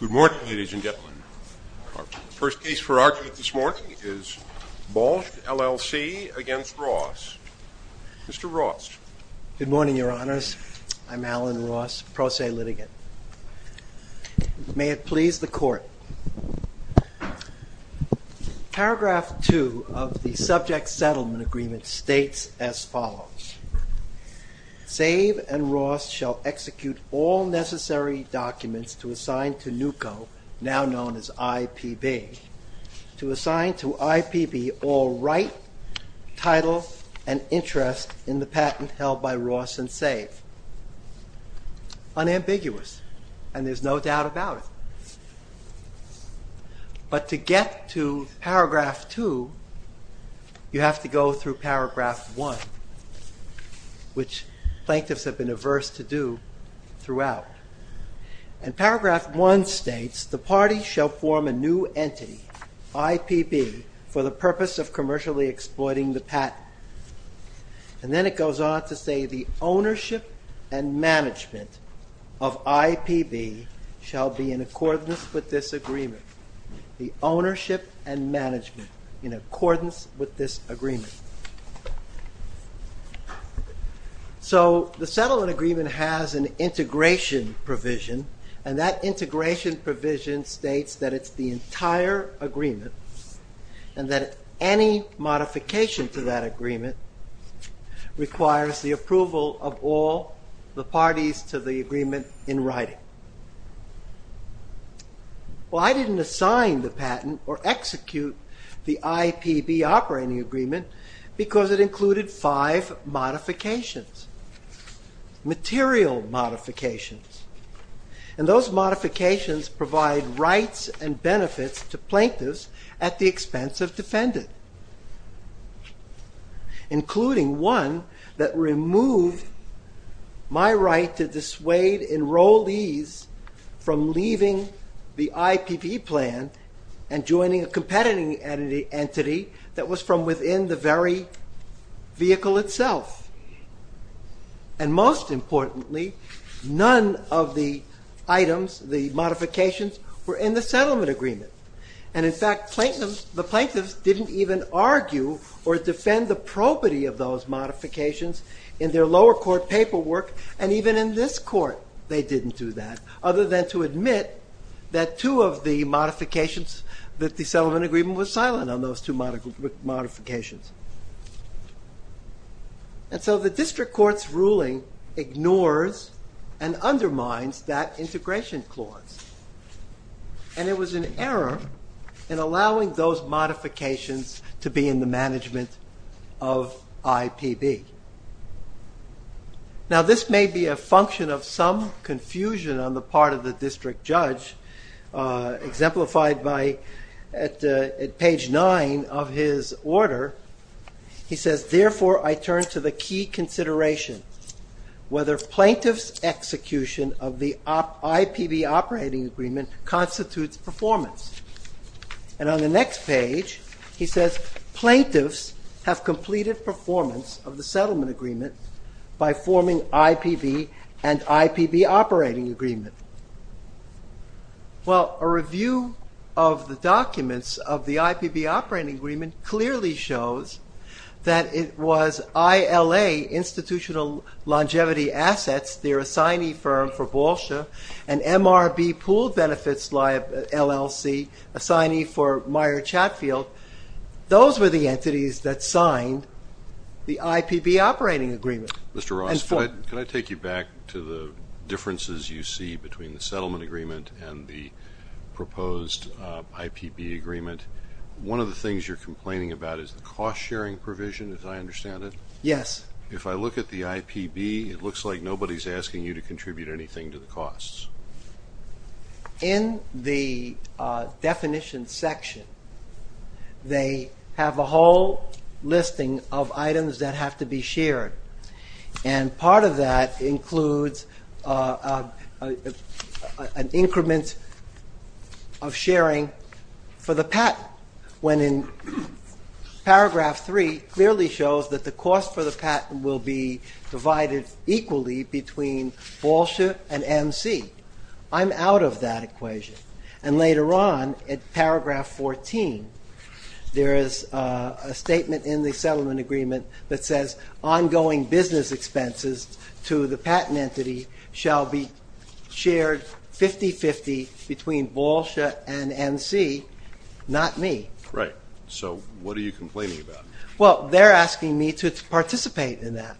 Good morning, ladies and gentlemen. Our first case for argument this morning is Balshe LLC v. Ross. Mr. Ross. Good morning, your honors. I'm Alan Ross, pro se litigant. May it please the court. Paragraph 2 of the subject settlement agreement states as follows. Save and Ross shall execute all necessary documents to assign to NUCO, now known as IPB, to assign to IPB all right, title, and interest in the patent held by Ross and Save. Unambiguous, and there's no doubt about it. But to get to paragraph 2, you have to go through paragraph 1, which plaintiffs have been averse to do throughout. And paragraph 1 states the party shall form a new entity, IPB, for the purpose of commercially exploiting the patent. And then it goes on to say the ownership and management of IPB shall be in accordance with this agreement. The ownership and management in accordance with this agreement. So the settlement agreement has an integration provision, and that integration provision states that it's the entire agreement, and that any modification to that agreement requires the approval of all the parties to the agreement in writing. Well, I didn't assign the patent or execute the IPB operating agreement because it included five modifications, material modifications. And those modifications provide rights and benefits to plaintiffs at the expense of defendant, including one that removed my right to dissuade enrollees from leaving the IPB plan and joining a competitive entity that was from within the very vehicle itself. And most importantly, none of the items, the modifications, were in the settlement agreement. And in fact, the plaintiffs didn't even argue or defend the property of those modifications in their lower court paperwork, and even in this court they didn't do that, other than to admit that two of the modifications, that the settlement agreement was silent on those two modifications. And so the district court's ruling ignores and undermines that integration clause, and it was an error in allowing those modifications to be in the management of IPB. Now this may be a function of some confusion on the part of the district judge, exemplified at page nine of his order. He says, therefore, I turn to the key consideration, whether plaintiff's execution of the IPB operating agreement constitutes performance. And on the next page he says, plaintiffs have completed performance of the settlement agreement by forming IPB and IPB operating agreement. Well, a review of the documents of the IPB operating agreement clearly shows that it was ILA, Institutional Longevity Assets, their assignee firm for Balsha, and MRB Pool Benefits LLC, assignee for Meyer Chatfield, those were the entities that signed the IPB operating agreement. Mr. Ross, can I take you back to the differences you see between the settlement agreement and the proposed IPB agreement? One of the things you're complaining about is the cost sharing provision, as I understand it. Yes. If I look at the IPB, it looks like nobody's asking you to contribute anything to the costs. In the definition section, they have a whole listing of items that have to be shared. And part of that includes an increment of sharing for the patent, when in paragraph three clearly shows that the cost for the patent will be divided equally between Balsha and MC. I'm out of that equation. And later on, at paragraph 14, there is a statement in the settlement agreement that says ongoing business expenses to the patent entity shall be shared 50-50 between Balsha and MC, not me. Right. So what are you complaining about? Well, they're asking me to participate in that.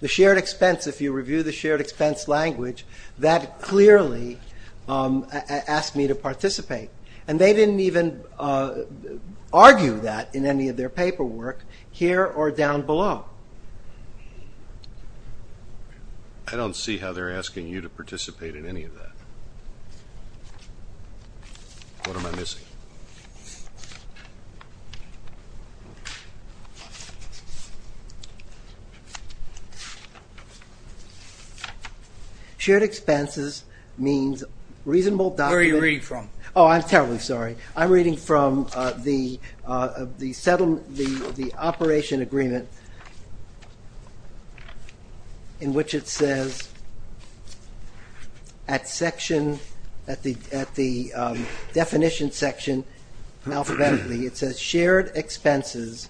The shared expense, if you review the shared expense language, that clearly asked me to participate. And they didn't even argue that in any of their paperwork here or down below. I don't see how they're asking you to participate in any of that. What am I missing? Shared expenses means reasonable document. Where are you reading from? Oh, I'm terribly sorry. I'm reading from the operation agreement in which it says at the definition section, it says shared expenses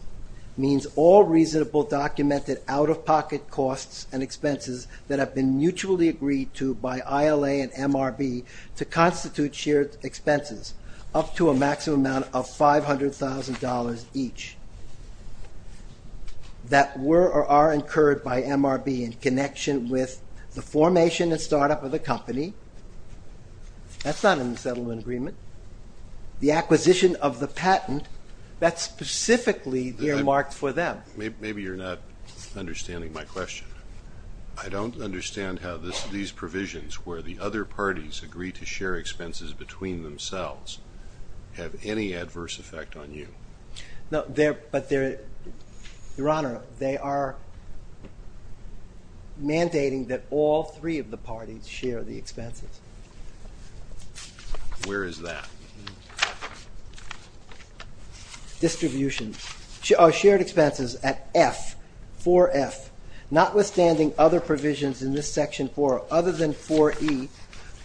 means all reasonable documented out-of-pocket costs and expenses that have been mutually agreed to by ILA and MRB to constitute shared expenses up to a maximum amount of $500,000 each that were or are incurred by MRB in connection with the formation and startup of the company. That's not in the settlement agreement. The acquisition of the patent, that's specifically earmarked for them. Maybe you're not understanding my question. I don't understand how these provisions where the other parties agree to share expenses between themselves have any adverse effect on you. No, but Your Honor, they are mandating that all three of the parties share the expenses. Where is that? Distribution. Shared expenses at F, 4F. Notwithstanding other provisions in this section for other than 4E,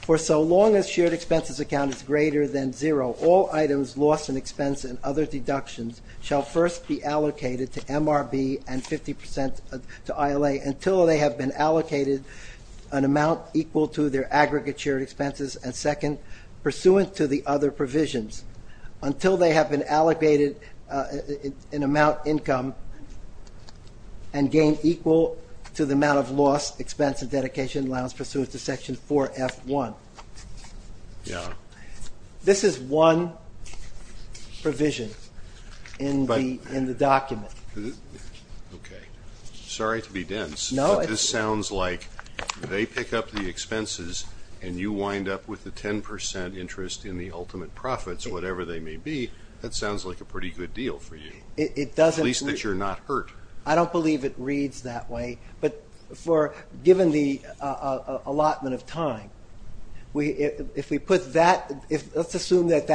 for so long as shared expenses account is greater than zero, all items lost in expense and other deductions shall first be allocated to MRB and 50% to ILA until they have been allocated an amount equal to their aggregate shared expenses, and second, pursuant to the other provisions, until they have been allocated an amount income and gain equal to the amount of lost expense and dedication allowance pursuant to section 4F1. This is one provision in the document. Okay. Sorry to be dense, but this sounds like they pick up the expenses and you wind up with the 10% interest in the ultimate profits, whatever they may be. That sounds like a pretty good deal for you. At least that you're not hurt. I don't believe it reads that way, but given the allotment of time, if we put that, let's assume that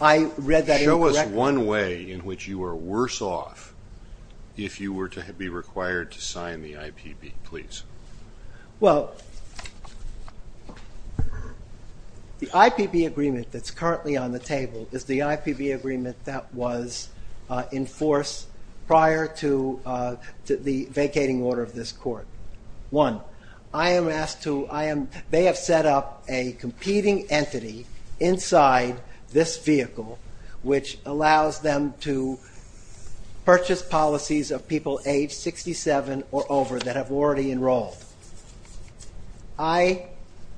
I read that incorrectly. Show us one way in which you are worse off if you were to be required to sign the IPB, please. Well, the IPB agreement that's currently on the table is the IPB agreement that was enforced prior to the vacating order of this court. One, they have set up a competing entity inside this vehicle which allows them to enroll.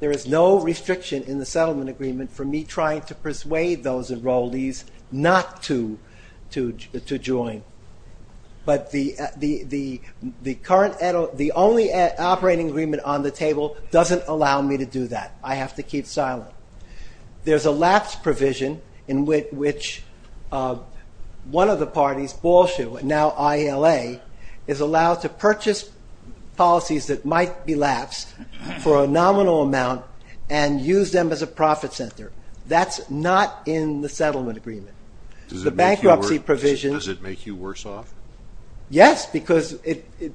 There is no restriction in the settlement agreement for me trying to persuade those enrollees not to join, but the only operating agreement on the table doesn't allow me to do that. I have to keep silent. There's a lapse provision in which one of the parties, now ILA, is allowed to purchase policies that might be lapsed for a nominal amount and use them as a profit center. That's not in the settlement agreement. Does it make you worse off? Yes, because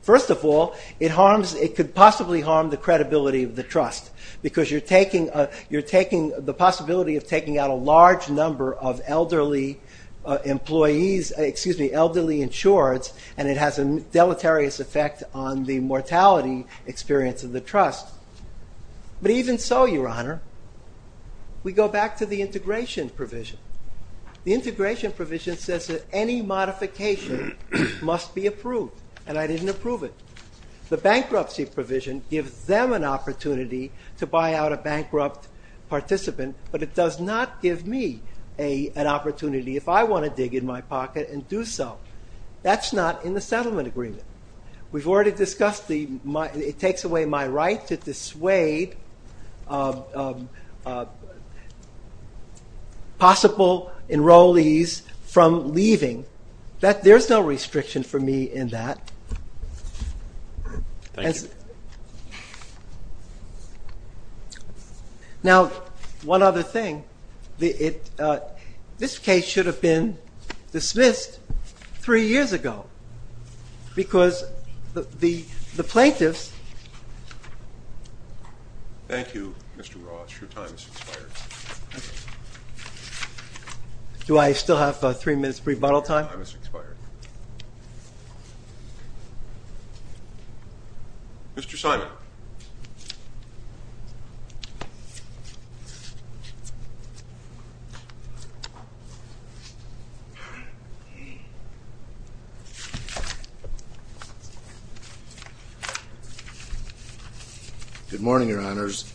first of all, it could possibly harm the credibility of the trust, because you're taking the possibility of taking out a large number of elderly employees, excuse me, elderly insureds, and it has a deleterious effect on the mortality experience of the trust. But even so, Your Honor, we go back to the integration provision. The integration provision says that any modification must be approved, and I didn't approve it. The bankruptcy provision gives them an opportunity to buy out a bankrupt participant, but it does not give me an opportunity, if I want to dig in my pocket and do so. That's not in the settlement agreement. We've already discussed, it takes away my right to dissuade possible enrollees from leaving. There's no restriction for me in that. Thank you. Now, one other thing. This case should have been dismissed three years ago, because the plaintiffs Thank you, Mr. Ross. Your time has expired. Do I still have three minutes for rebuttal time? Time has expired. Mr. Simon. Good morning, Your Honors.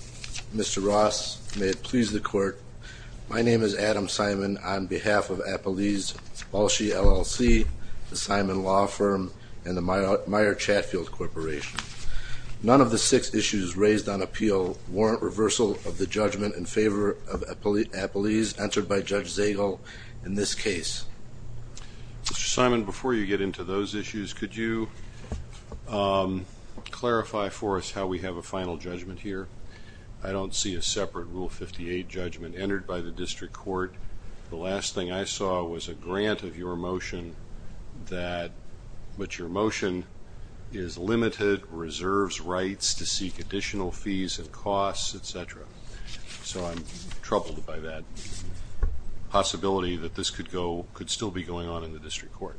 Mr. Ross, may it please the court. My name is Adam Simon, on behalf of Appalachia LLC, the Simon Law Firm, and the Meyer Chatfield Corporation. None of the six issues raised on appeal warrant reversal of the judgment in favor of appellees entered by Judge Zagel in this case. Mr. Simon, before you get into those issues, could you clarify for us how we have a final judgment here? I don't see a separate Rule 58 judgment entered by the district court. The last thing I saw was a grant of your motion is limited, reserves rights to seek additional fees and costs, etc. So I'm troubled by that possibility that this could still be going on in the district court.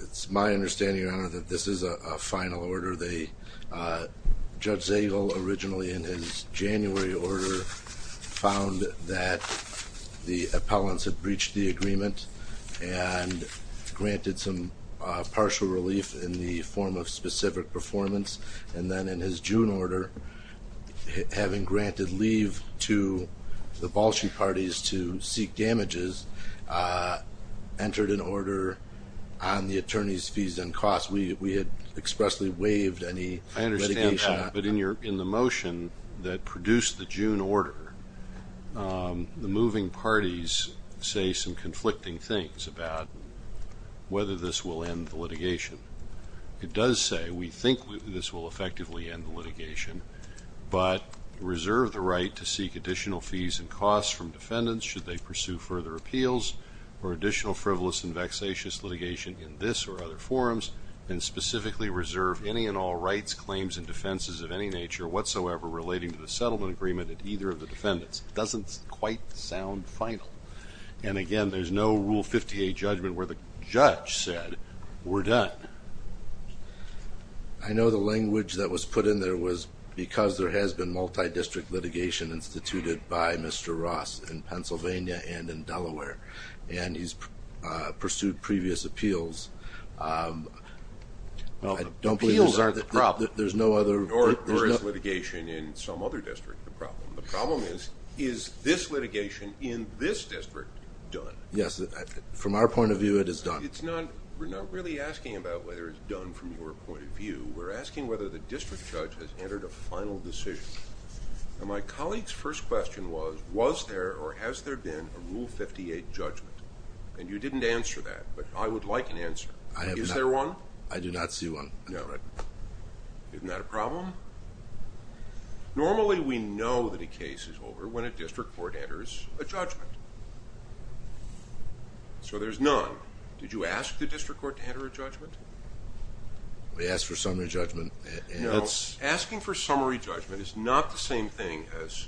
It's my understanding, Your Honor, that this is a final order. Judge Zagel originally in his January order found that the partial relief in the form of specific performance, and then in his June order, having granted leave to the Balshi parties to seek damages, entered an order on the attorney's fees and costs. We had expressly waived any litigation. I understand that, but in the motion that produced the June order, the moving parties say some conflicting things about whether this will end the litigation. It does say, we think this will effectively end the litigation, but reserve the right to seek additional fees and costs from defendants should they pursue further appeals or additional frivolous and vexatious litigation in this or other forms, and specifically reserve any and all rights, claims, and defenses of any nature whatsoever relating to the settlement agreement at either of the defendants. It doesn't quite sound final. And again, there's no Rule 58 judgment where the judge said, we're done. I know the language that was put in there was because there has been multi-district litigation instituted by Mr. Ross in Pennsylvania and in Delaware, and he's pursued previous appeals. Appeals aren't the problem. Or is litigation in some other district the problem? The problem is, is this litigation in this district done? Yes, from our point of view, it is done. We're not really asking about whether it's done from your point of view. We're asking whether the district judge has entered a final decision. My colleague's first question was, was there or has there been a Rule 58 judgment? And you didn't answer that, but I would like an answer. Is there one? I do not see one. Isn't that a problem? Normally we know that a case is over when a district court enters a judgment. So there's none. Did you ask the district court to enter a judgment? We asked for summary judgment. No, asking for summary judgment is not the same thing as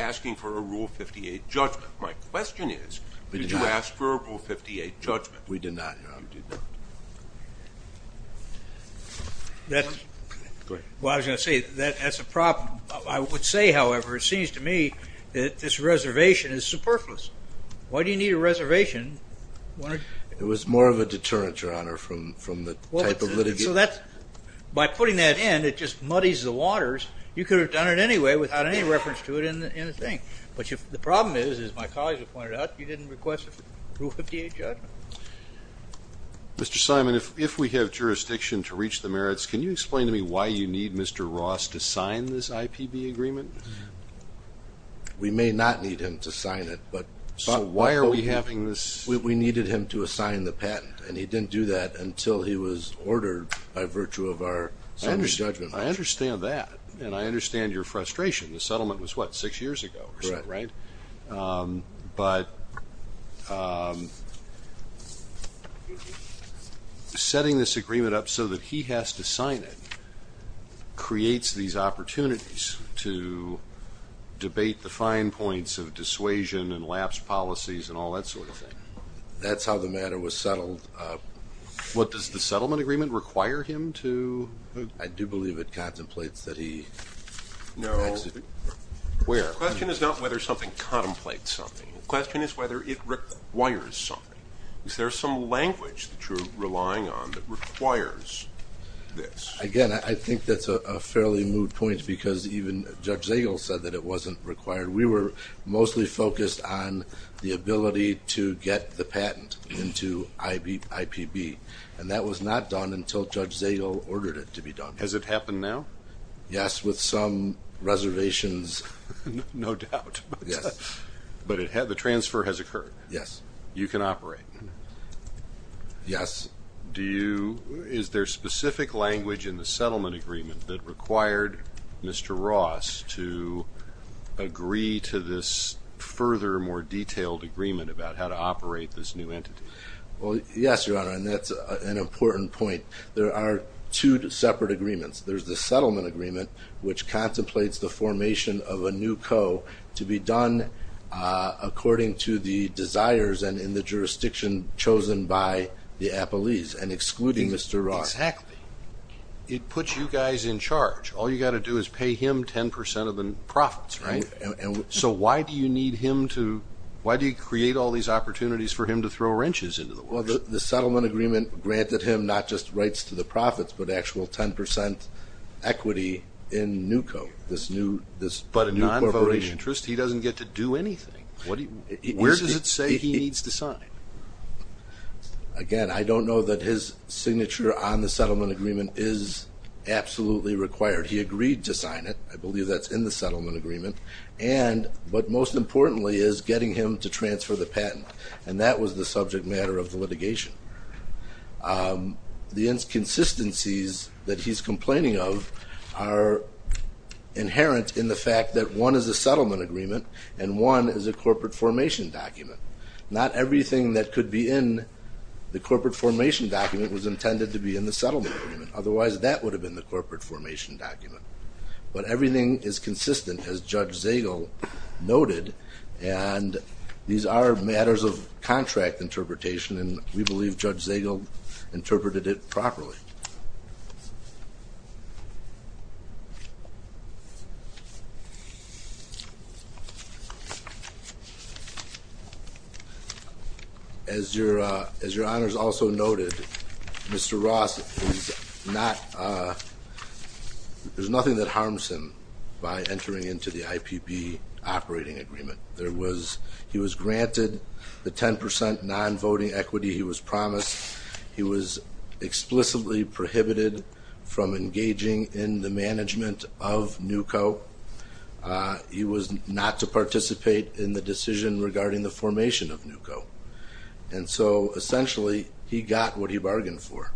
asking for a Rule 58 judgment. My question is, did you ask for a Rule 58 judgment? We did not, Your Honor. Well, I was going to say, that's a problem. I would say, however, it seems to me that this reservation is superfluous. Why do you need a reservation? It was more of a deterrent, Your Honor, from the type of litigation. So by putting that in, it just muddies the waters. You could have done it anyway without any reference to it in the thing. But the problem is, as my colleagues have pointed out, you didn't request a Rule 58 judgment. Mr. Simon, if we have jurisdiction to reach the merits, can you explain to me why you need Mr. Ross to sign this IPB agreement? We may not need him to sign it. So why are we having this? We needed him to assign the patent, and he didn't do that until he was ordered by virtue of our summary judgment. I understand that, and I understand your frustration. The settlement was, what, six years ago or so, right? Correct. But setting this agreement up so that he has to sign it creates these opportunities to That's how the matter was settled. What, does the settlement agreement require him to I do believe it contemplates that he The question is not whether something contemplates something. The question is whether it requires something. Is there some language that you're relying on that requires this? Again, I think that's a fairly moot point, because even Judge Zagel said that it wasn't We were mostly focused on the ability to get the patent into IPB, and that was not done until Judge Zagel ordered it to be done. Has it happened now? Yes, with some reservations. No doubt. But the transfer has occurred. Yes. You can operate. Yes. Is there specific language in the settlement agreement that required Mr. Ross to agree to this further, more detailed agreement about how to operate this new entity? Well, yes, Your Honor, and that's an important point. There are two separate agreements. There's the settlement agreement, which contemplates the formation of a new co to be done according to the desires and in the jurisdiction chosen by the appellees, and excluding Mr. Ross. Exactly. It puts you guys in charge. All you've got to do is pay him 10% of the profits, right? So why do you need him to, why do you create all these opportunities for him to throw wrenches into the works? Well, the settlement agreement granted him not just rights to the profits, but actual 10% equity in new co, this new corporation. He doesn't get to do anything. Where does it say he needs to sign? Again, I don't know that his signature on the settlement agreement is absolutely required. He agreed to sign it. I believe that's in the settlement agreement. But most importantly is getting him to transfer the patent, and that was the subject matter of the litigation. The inconsistencies that One is a settlement agreement, and one is a corporate formation document. Not everything that could be in the corporate formation document was intended to be in the settlement agreement. Otherwise, that would have been the corporate formation document. But everything is consistent, as Judge Zagel noted, and these are matters of contract interpretation, and we believe Judge Zagel interpreted it properly. As your honors also noted, Mr. Ross is not there's nothing that harms him by entering into the IPB operating agreement. He was granted the 10% non-voting equity he was promised. He was explicitly prohibited from engaging in the management of NUCO. He was not to participate in the decision regarding the formation of NUCO. And so essentially, he got what he bargained for.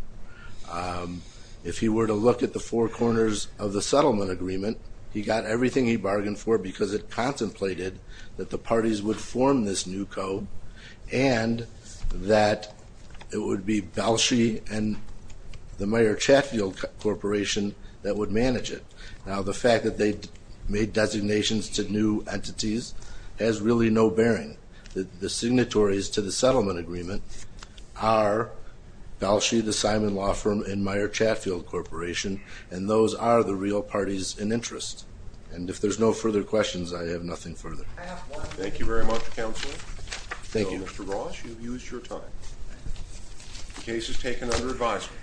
If he were to look at the four corners of the settlement agreement, he got everything he bargained for because it contemplated that the parties would form this NUCO, and that it would be Balshie and the Meyer Chatfield Corporation that would manage it. Now, the fact that they made designations to new entities has really no bearing. The signatories to the settlement agreement are Balshie, the Simon Law Firm, and Meyer Chatfield Corporation, and those are the real parties in interest. And if there's no further questions, I have nothing further. Thank you very much, Counselor. So, Mr. Ross, you've used your time. The case is taken under advisory.